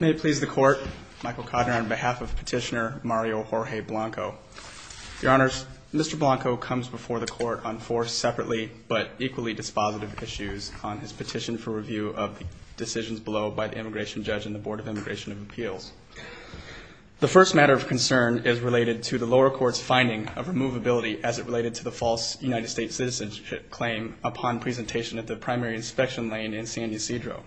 May it please the Court, Michael Cotter on behalf of Petitioner Mario Jorge Blanco. Your Honors, Mr. Blanco comes before the Court on four separately but equally dispositive issues on his petition for review of the decisions below by the Immigration Judge and the Board of Immigration and Appeals. The first matter of concern is related to the lower court's finding of removability as it related to the false United States citizenship claim upon presentation at the primary inspection lane in San Ysidro.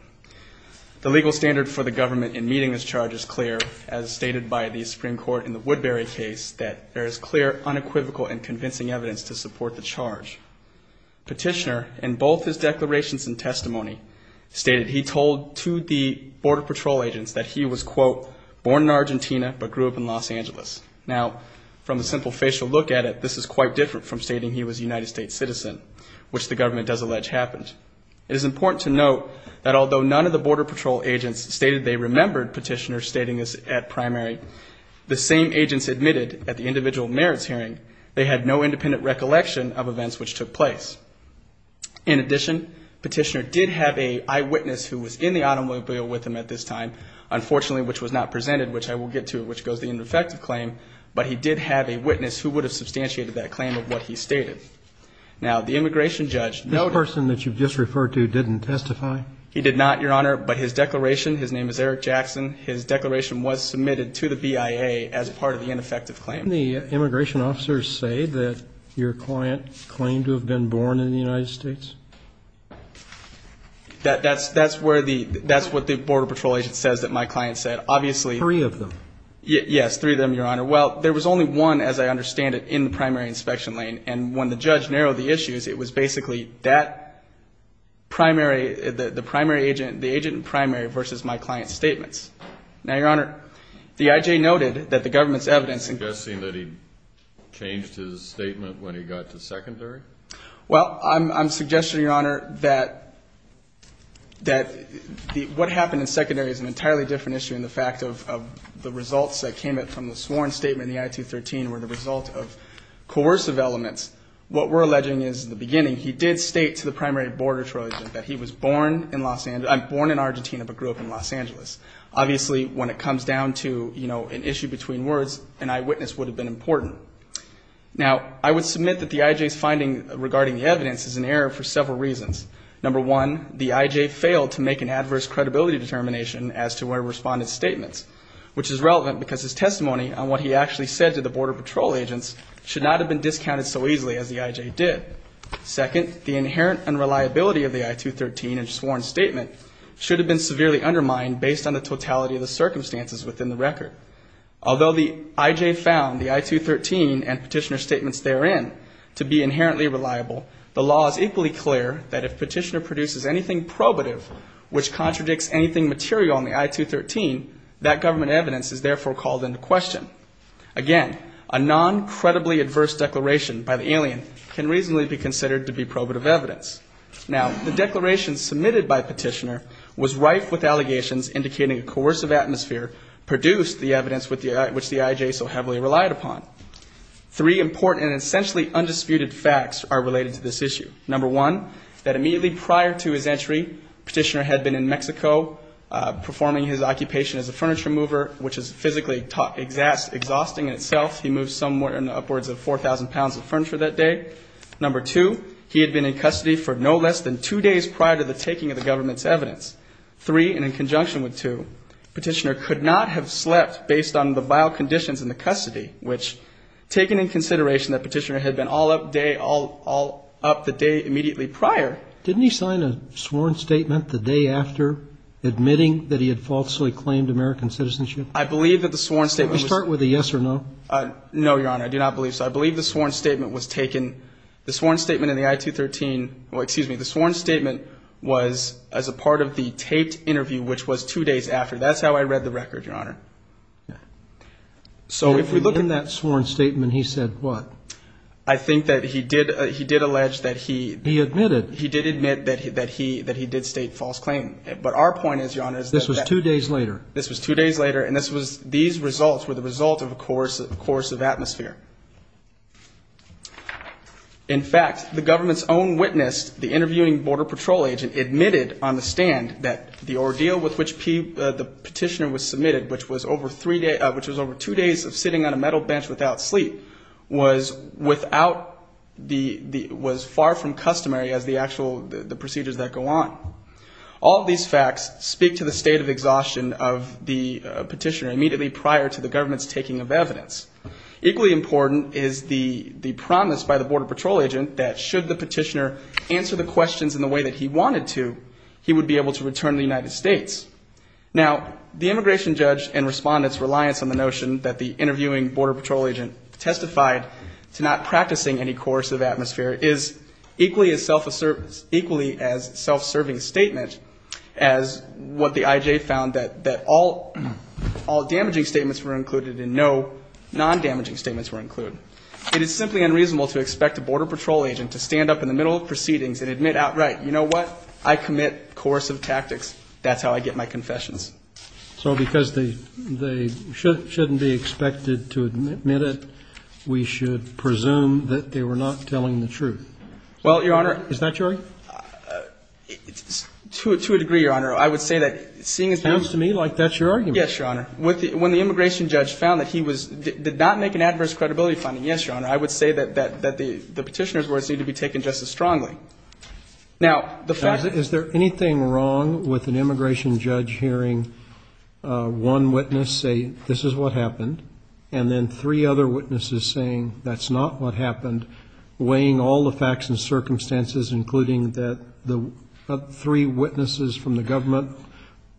The legal standard for the government in meeting this charge is clear as stated by the Supreme Court in the Woodbury case that there is clear unequivocal and convincing evidence to support the charge. Petitioner in both his declarations and testimony stated he told to the Border Patrol agents that he was quote born in Argentina but grew up in Los Angeles. Now from the simple facial look at it this is quite different from stating he was a United States citizen which the government does allege happened. It is important to note that although none of the Border Patrol agents stated they remembered Petitioner stating this at primary, the same agents admitted at the individual merits hearing they had no independent recollection of events which took place. In addition, Petitioner did have an eyewitness who was in the automobile with him at this time, unfortunately which was not presented which I will get to which goes to the ineffective claim, but he did have a witness who would have substantiated that claim of what he stated. Now the immigration judge noted. The person that you just referred to didn't testify? He did not, Your Honor, but his declaration, his name is Eric Jackson, his declaration was submitted to the BIA as part of the ineffective claim. Can the immigration officers say that your client claimed to have been born in the United States? That's what the Border Patrol agent says that my client said. Obviously. Three of them. Yes, three of them, Your Honor. Well, there was only one, as I understand it, in the primary inspection lane, and when the judge narrowed the issues, it was basically that primary, the primary agent, the agent in primary versus my client's statements. Now, Your Honor, the I.J. noted that the government's evidence. Suggesting that he changed his statement when he got to secondary? Well, I'm suggesting, Your Honor, that what happened in secondary is an entirely different issue in the fact of the results that came from the sworn statement in the I-213 were the result of coercive elements. What we're alleging is in the beginning, he did state to the primary Border Patrol agent that he was born in Los Angeles, born in Argentina but grew up in Los Angeles. Obviously, when it comes down to, you know, an issue between words, an eyewitness would have been important. Now, I would submit that the I.J.'s finding regarding the evidence is an error for several reasons. Number one, the I.J. failed to make an adverse credibility determination as to where he responded to statements, which is relevant because his testimony on what he actually said to the Border Patrol agents should not have been discounted so easily as the I.J. did. Second, the inherent unreliability of the I-213 in the sworn statement should have been severely undermined based on the totality of the circumstances within the record. Although the I.J. found the I-213 and Petitioner's statements therein to be inherently reliable, the law is equally clear that if Petitioner produces anything probative, which contradicts anything material in the I-213, that government evidence is therefore called into question. Again, a non-credibly adverse declaration by the alien can reasonably be considered to be probative evidence. Now, the declaration submitted by Petitioner was rife with allegations indicating a coercive atmosphere produced the evidence which the I.J. so heavily relied upon. Three important and essentially undisputed facts are related to this issue. Number one, that immediately prior to his entry, Petitioner had been in Mexico performing his occupation as a furniture mover, which is physically exhausting in itself. He moved somewhere in the upwards of 4,000 pounds of furniture that day. Number two, he had been in custody for no less than two days prior to the taking of the government's evidence. Three, and in conjunction with two, Petitioner could not have slept based on the vile conditions in the custody, which, taken in consideration that Petitioner had been all up day all up the day immediately prior. Didn't he sign a sworn statement the day after admitting that he had falsely claimed American citizenship? I believe that the sworn statement was. Can we start with a yes or no? No, Your Honor. I do not believe so. I believe the sworn statement was taken. The sworn statement in the I-213. Well, excuse me. The sworn statement was as a part of the taped interview, which was two days after. That's how I read the record, Your Honor. So if we look in that sworn statement, he said what? I think that he did. He did allege that he. He admitted. He did admit that he that he that he did state false claim. But our point is, Your Honor. This was two days later. And this was these results were the result of a course of atmosphere. In fact, the government's own witness, the interviewing Border Patrol agent, admitted on the stand that the ordeal with which the Petitioner was submitted, which was over three days, which was over two days of sitting on a metal bench without sleep, was without the was far from customary as the actual the procedures that go on. All of these facts speak to the state of exhaustion of the petitioner immediately prior to the government's taking of evidence. Equally important is the the promise by the Border Patrol agent that should the petitioner answer the questions in the way that he wanted to, he would be able to return to the United States. Now, the immigration judge and respondents reliance on the notion that the interviewing Border Patrol agent testified to not as what the IJ found that that all all damaging statements were included in. No non-damaging statements were included. It is simply unreasonable to expect a Border Patrol agent to stand up in the middle of proceedings and admit outright. You know what? I commit coercive tactics. That's how I get my confessions. So because they they shouldn't shouldn't be expected to admit it. Well, Your Honor. Is that true? To a degree, Your Honor. I would say that seeing as how. Sounds to me like that's your argument. Yes, Your Honor. When the immigration judge found that he was did not make an adverse credibility finding. Yes, Your Honor. I would say that that that the the petitioner's words need to be taken just as strongly. Now, the fact that. Is there anything wrong with an immigration judge hearing one witness say this is what happened? And then three other witnesses saying that's not what happened? Weighing all the facts and circumstances, including that the three witnesses from the government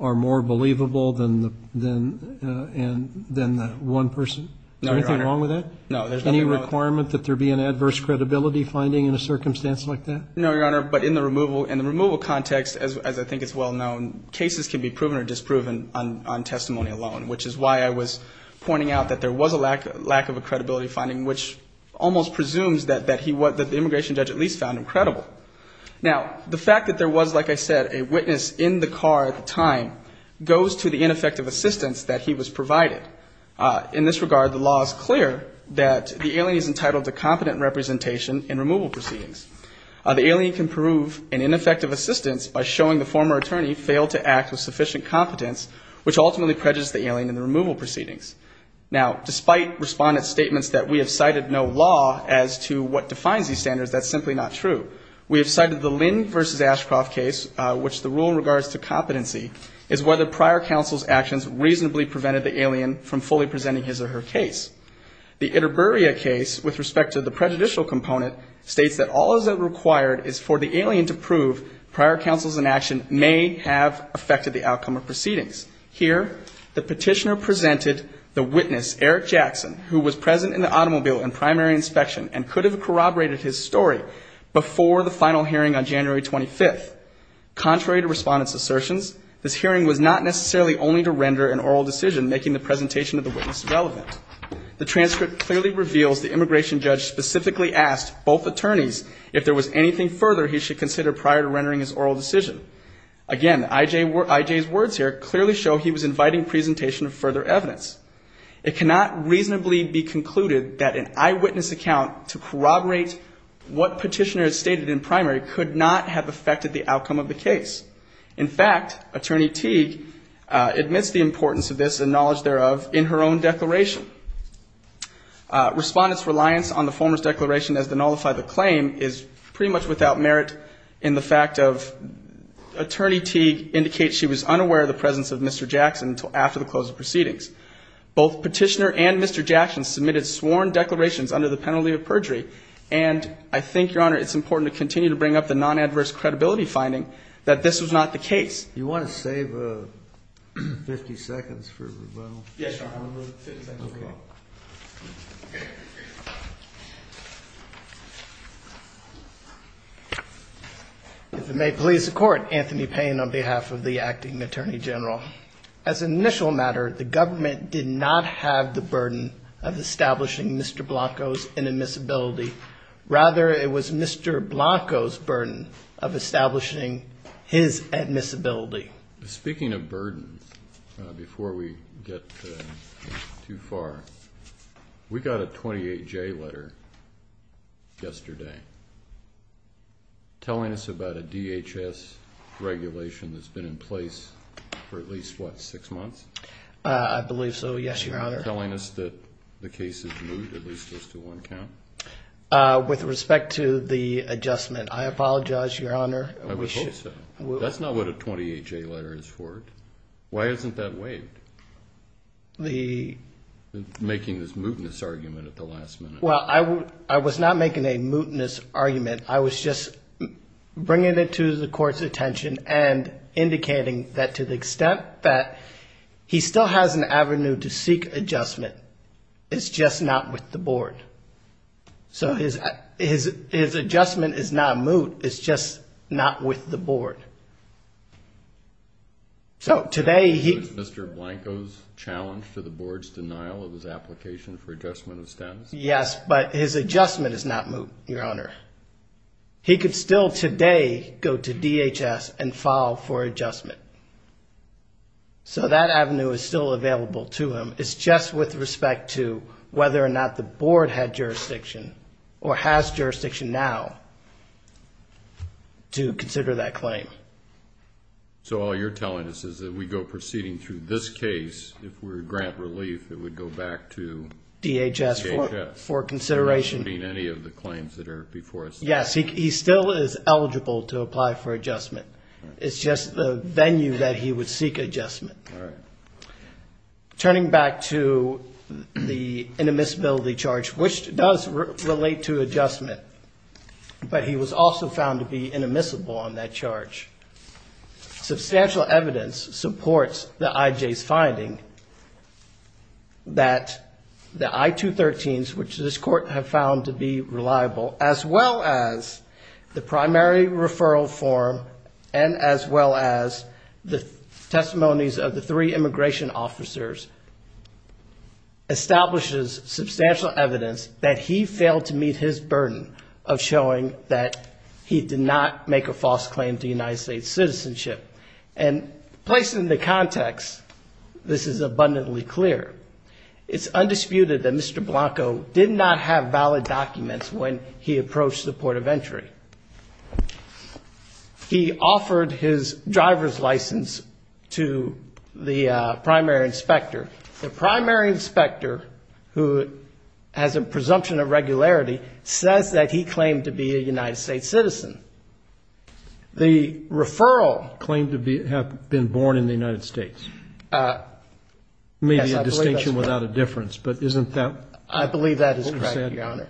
are more believable than the than than the one person. Is there anything wrong with that? No, there's nothing wrong. Any requirement that there be an adverse credibility finding in a circumstance like that? No, Your Honor. But in the removal in the removal context, as I think it's well known, cases can be proven or disproven on testimony alone, which is why I was pointing out that there was a lack of lack of a credibility finding, which almost presumes that that he was that the immigration judge at least found him credible. Now, the fact that there was, like I said, a witness in the car at the time goes to the ineffective assistance that he was provided. In this regard, the law is clear that the alien is entitled to competent representation in removal proceedings. The alien can prove an ineffective assistance by showing the former attorney failed to act with sufficient competence, which ultimately prejudiced the alien in the removal proceedings. Now, despite respondents' statements that we have cited no law as to what defines these standards, that's simply not true. We have cited the Lynn versus Ashcroft case, which the rule regards to competency, is whether prior counsel's actions reasonably prevented the alien from fully presenting his or her case. The Itaburia case, with respect to the prejudicial component, states that all that is required is for the alien to prove prior counsel's inaction may have affected the outcome of proceedings. Here, the petitioner presented the witness, Eric Jackson, who was present in the automobile in primary inspection and could have corroborated his story before the final hearing on January 25th. Contrary to respondents' assertions, this hearing was not necessarily only to render an oral decision, making the presentation of the witness relevant. The transcript clearly reveals the immigration judge specifically asked both attorneys if there was anything further he should consider prior to rendering his oral decision. Again, I.J.'s words here clearly show he was inviting presentation of further evidence. It cannot reasonably be concluded that an eyewitness account to corroborate what petitioner has stated in primary could not have affected the outcome of the case. In fact, Attorney Teague admits the importance of this and knowledge thereof in her own declaration. Respondents' reliance on the former's declaration as to nullify the claim is pretty much without merit in the fact of Attorney Teague indicates she was unaware of the presence of Mr. Jackson until after the close of proceedings. Both petitioner and Mr. Jackson submitted sworn declarations under the penalty of perjury, and I think, Your Honor, it's important to continue to bring up the non-adverse credibility finding that this was not the case. Do you want to save 50 seconds for rebuttal? Yes, Your Honor. I'll move 50 seconds as well. Okay. If it may please the Court, Anthony Payne on behalf of the acting Attorney General. As an initial matter, the government did not have the burden of establishing Mr. Blanco's inadmissibility. Rather, it was Mr. Blanco's burden of establishing his admissibility. Speaking of burdens, before we get too far, we got a 28-J letter yesterday telling us about a DHS regulation that's been in place for at least, what, six months? I believe so, yes, Your Honor. Telling us that the case is moot, at least as to one count? With respect to the adjustment, I apologize, Your Honor. I would hope so. That's not what a 28-J letter is for. Why isn't that waived? Making this mootness argument at the last minute. Well, I was not making a mootness argument. I was just bringing it to the Court's attention and indicating that to the extent that he still has an avenue to seek adjustment, it's just not with the Board. So his adjustment is not moot, it's just not with the Board. So today he... It was Mr. Blanco's challenge to the Board's denial of his application for adjustment of status? Yes, but his adjustment is not moot, Your Honor. He could still today go to DHS and file for adjustment. So that avenue is still available to him. It's just with respect to whether or not the Board had jurisdiction or has jurisdiction now to consider that claim. So all you're telling us is that we go proceeding through this case, if we were to grant relief, it would go back to DHS? DHS for consideration. DHS for considering any of the claims that are before us? Yes, he still is eligible to apply for adjustment. It's just the venue that he would seek adjustment. All right. Turning back to the inadmissibility charge, which does relate to adjustment, but he was also found to be inadmissible on that charge. Substantial evidence supports the IJ's finding that the I-213s, which this Court has found to be reliable, as well as the primary referral form and as well as the testimonies of the three immigration officers, establishes substantial evidence that he failed to meet his burden of showing that he did not make a false claim to United States citizenship. And placed in the context, this is abundantly clear. It's undisputed that Mr. Blanco did not have valid documents when he approached the port of entry. He offered his driver's license to the primary inspector. The primary inspector, who has a presumption of regularity, says that he claimed to be a United States citizen. The referral. Claimed to have been born in the United States. Maybe a distinction without a difference, but isn't that? I believe that is correct, Your Honor.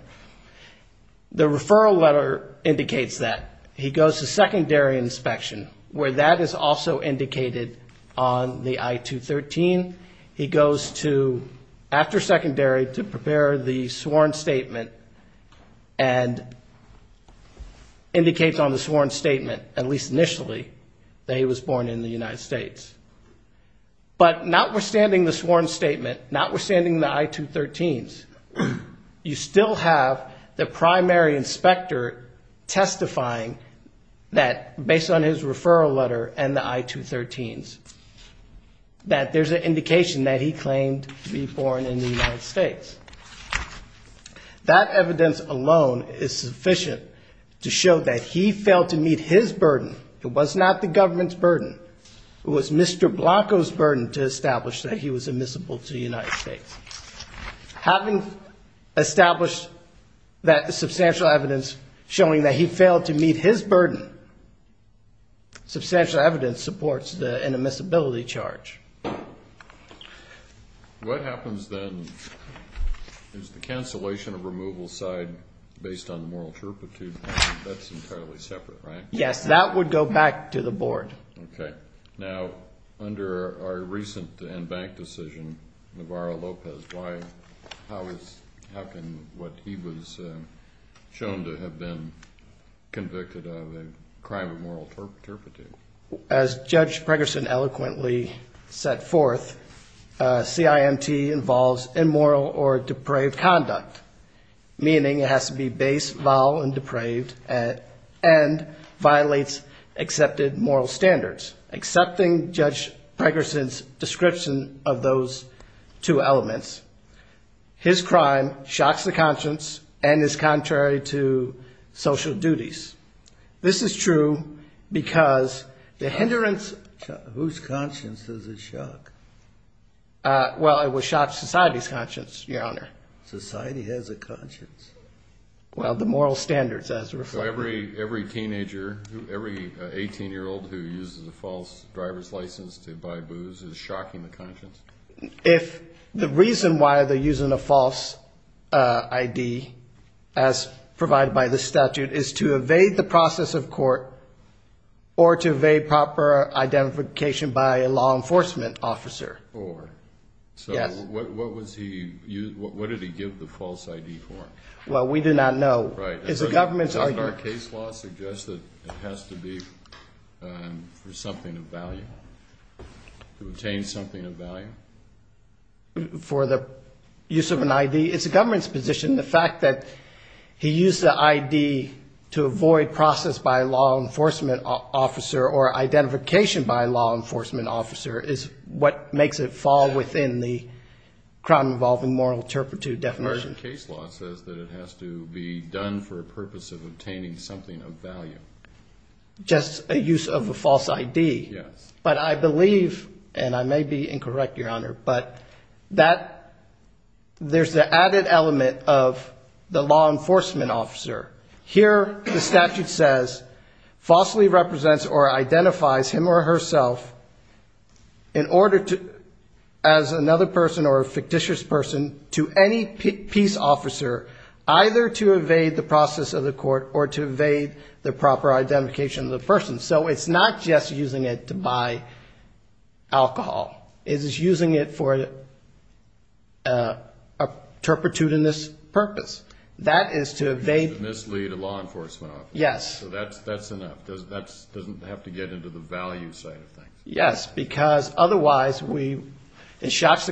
The referral letter indicates that. He goes to secondary inspection, where that is also indicated on the I-213. He goes to after secondary to prepare the sworn statement and indicates on the sworn statement, at least initially, that he was born in the United States. But notwithstanding the sworn statement, notwithstanding the I-213s, you still have the primary inspector testifying that, based on his referral letter and the I-213s, that there's an indication that he claimed to be born in the United States. That evidence alone is sufficient to show that he failed to meet his burden. It was not the government's burden. It was Mr. Blanco's burden to establish that he was admissible to the United States. Having established that substantial evidence showing that he failed to meet his burden, substantial evidence supports an admissibility charge. What happens then is the cancellation of removal side based on the moral turpitude? That's entirely separate, right? Yes, that would go back to the Board. Okay. Now, under our recent and bank decision, Navarro-Lopez, how can what he was shown to have been convicted of a crime of moral turpitude? As Judge Pregerson eloquently set forth, CIMT involves immoral or depraved conduct, meaning it has to be base, vile, and depraved, and violates accepted moral standards. Accepting Judge Pregerson's description of those two elements, his crime shocks the conscience and is contrary to social duties. This is true because the hindrance... Whose conscience is in shock? Well, it would shock society's conscience, Your Honor. Society has a conscience. Well, the moral standards as reflected. So every teenager, every 18-year-old who uses a false driver's license to buy booze is shocking the conscience? If the reason why they're using a false ID, as provided by the statute, is to evade the process of court or to evade proper identification by a law enforcement officer. Or? So what did he give the false ID for? Well, we do not know. Does our case law suggest that it has to be for something of value, to obtain something of value? For the use of an ID? It's the government's position, the fact that he used the ID to avoid process by a law enforcement officer or identification by a law enforcement officer is what makes it fall within the crime involving moral turpitude definition. Our case law says that it has to be done for a purpose of obtaining something of value. Just a use of a false ID? Yes. But I believe, and I may be incorrect, Your Honor, but that there's the added element of the law enforcement officer. Here the statute says, falsely represents or identifies him or herself in order to, as another person or a fictitious person, to any peace officer, either to evade the process of the court or to evade the proper identification of the person. So it's not just using it to buy alcohol. It's using it for a turpitudinous purpose. That is to evade... To mislead a law enforcement officer. Yes. So that's enough. Doesn't have to get into the value side of things. Yes, because otherwise it shocks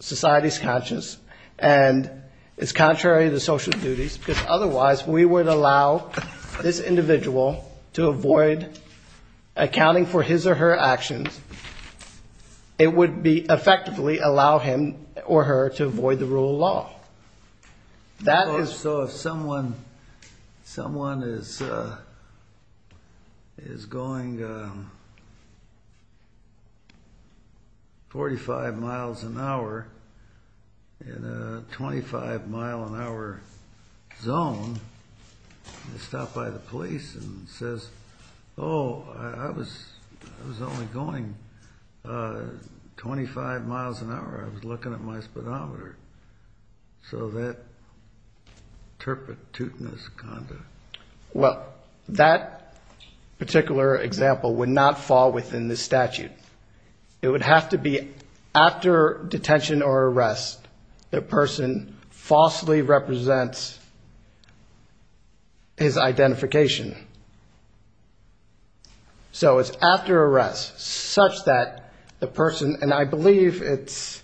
society's conscience and it's contrary to social duties, because otherwise we would allow this individual to avoid accounting for his or her actions. It would effectively allow him or her to avoid the rule of law. That is... So if someone is going 45 miles an hour in a 25 mile an hour zone, they stop by the police and says, oh, I was only going 25 miles an hour. I was looking at my speedometer. So that turpitudinous conduct... Well, that particular example would not fall within the statute. It would have to be after detention or arrest, the person falsely represents his identification. So it's after arrest, such that the person... And I believe it's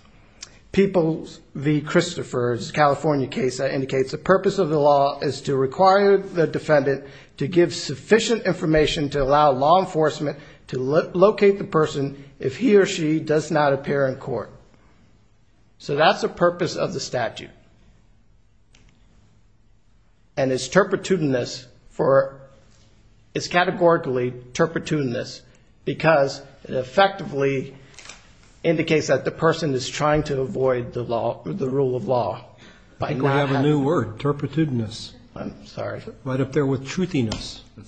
People v. Christopher's California case that indicates the purpose of the law is to require the defendant to give sufficient information to allow law enforcement to locate the person if he or she does not appear in court. So that's the purpose of the statute. And it's turpitudinous for... It's categorically turpitudinous because it effectively indicates that the person is trying to avoid the rule of law by not having... I think we have a new word, turpitudinous. I'm sorry. Right up there with truthiness. I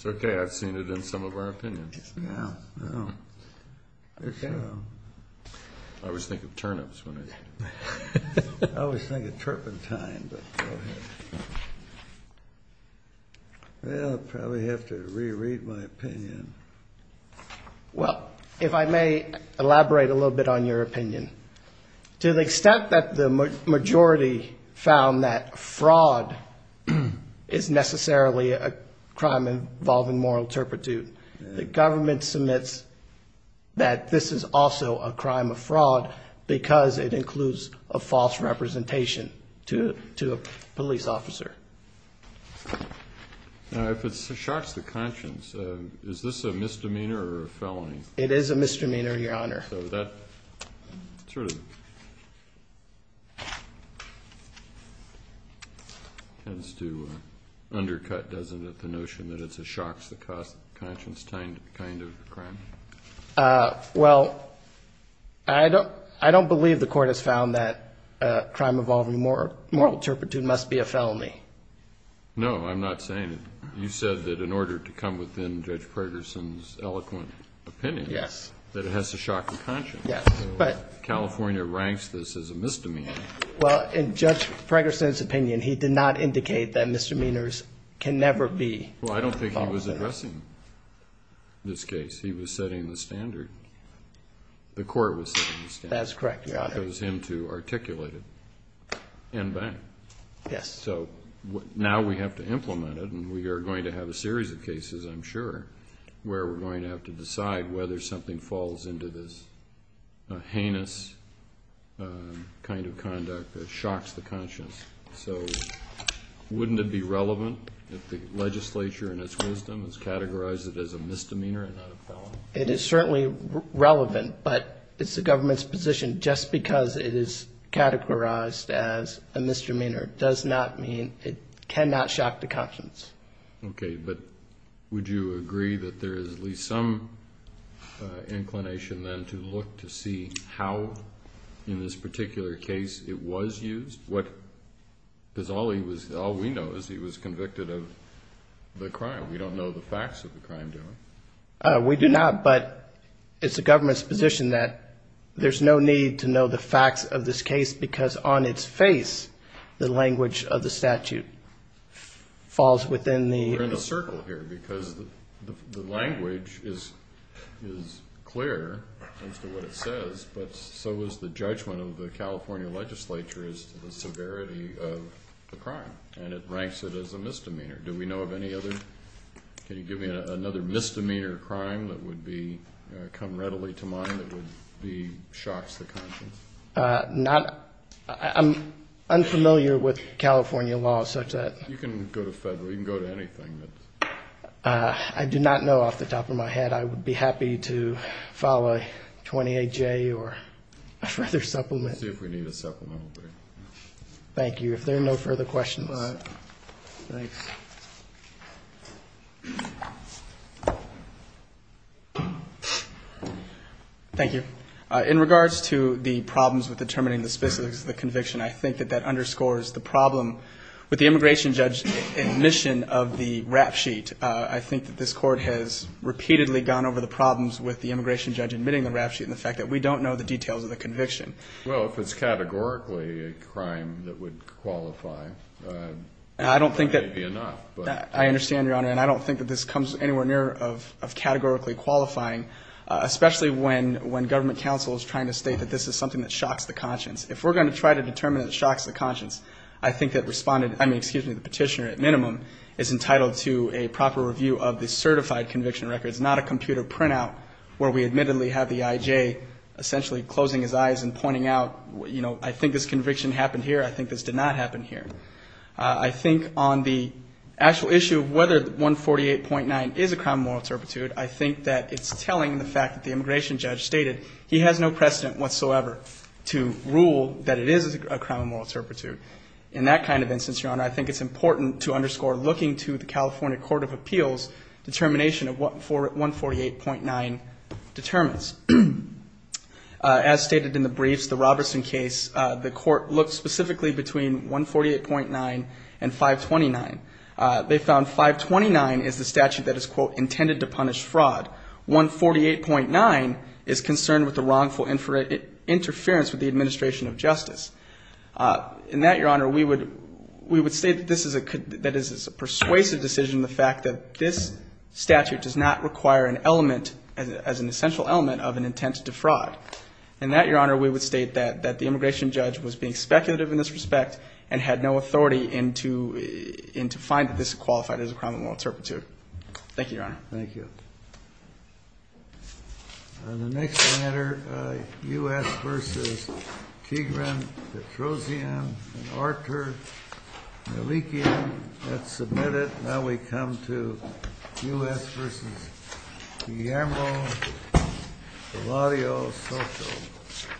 always think of turnips when I... Well, if I may elaborate a little bit on your opinion. To the extent that the majority found that fraud is necessarily a crime involving moral turpitude, the government submits that this is also a crime of fraud because it includes a false representation to a police officer. Now, if it shocks the conscience, is this a misdemeanor or a felony? It is a misdemeanor, Your Honor. So that sort of tends to undercut, doesn't it, the notion that it shocks the conscience kind of crime? Well, I don't believe the Court has found that crime involving moral turpitude must be a felony. No, I'm not saying that. I'm saying that it has to shock the conscience. California ranks this as a misdemeanor. Well, in Judge Fragerson's opinion, he did not indicate that misdemeanors can never be... Well, I don't think he was addressing this case. He was setting the standard. The Court was setting the standard. That's correct, Your Honor. Well, that goes into articulating and back. So now we have to implement it, and we are going to have a series of cases, I'm sure, where we're going to have to decide whether something falls into this heinous kind of conduct that shocks the conscience. So wouldn't it be relevant if the legislature, in its wisdom, has categorized it as a misdemeanor and not a felony? It is certainly relevant, but it's the government's position just because it is categorized as a misdemeanor does not mean it cannot shock the conscience. Okay, but would you agree that there is at least some inclination then to look to see how, in this particular case, it was used? Because all we know is he was convicted of the crime. We don't know the facts of the crime, do we? We do not, but it's the government's position that there's no need to know the facts of this case because on its face, the language of the statute falls within the... We're in a circle here because the language is clear as to what it says, but so is the judgment of the California legislature as to the severity of the crime, and it ranks it as a misdemeanor. Do we know of any other? Can you give me another misdemeanor crime that would come readily to mind that would shock the conscience? I'm unfamiliar with California law such that... You can go to federal. You can go to anything. I do not know off the top of my head. I would be happy to follow 28J or a further supplement. Let's see if we need a supplement over here. Thank you. In regards to the problems with determining the specifics of the conviction, I think that that underscores the problem with the immigration judge's admission of the rap sheet. I think that this Court has repeatedly gone over the problems with the immigration judge admitting the rap sheet and the fact that we don't know the details of the conviction. Well, if it's categorically a crime that would qualify, that may be enough. I understand, Your Honor, and I don't think that this comes anywhere near of categorically qualifying, especially when government counsel is trying to state that this is something that shocks the conscience. If we're going to try to determine that it shocks the conscience, I think that Respondent, I mean, excuse me, the Petitioner at minimum, is entitled to a proper review of the certified conviction records, not a computer printout where we admittedly have the IJ essentially closing his eyes and pointing out, you know, I think this conviction happened here, I think this did not happen here. I think on the actual issue of whether 148.9 is a crime of moral turpitude, I think that it's telling the fact that the immigration judge stated he has no precedent whatsoever to rule that it is a crime of moral turpitude. In that kind of instance, Your Honor, I think it's important to underscore looking to the California Court of Appeals determination of what 148.9 determines. As stated in the briefs, the Robertson case, the court looked specifically between 148.9 and 529. They found 529 is the statute that is, quote, intended to punish fraud. 148.9 is concerned with the wrongful interference with the administration of justice. In that, Your Honor, we would state that this is a persuasive decision, the fact that this statute does not require an element, as an essential element, of an intent to fraud. In that, Your Honor, we would state that the immigration judge was being speculative in this respect and had no authority into finding this qualified as a crime of moral turpitude. Thank you, Your Honor. The next matter, U.S. v. Tigran, Petrosian, and Archer, Malikian, that's submitted. Now we come to U.S. v. Guillermo Palladio-Soto.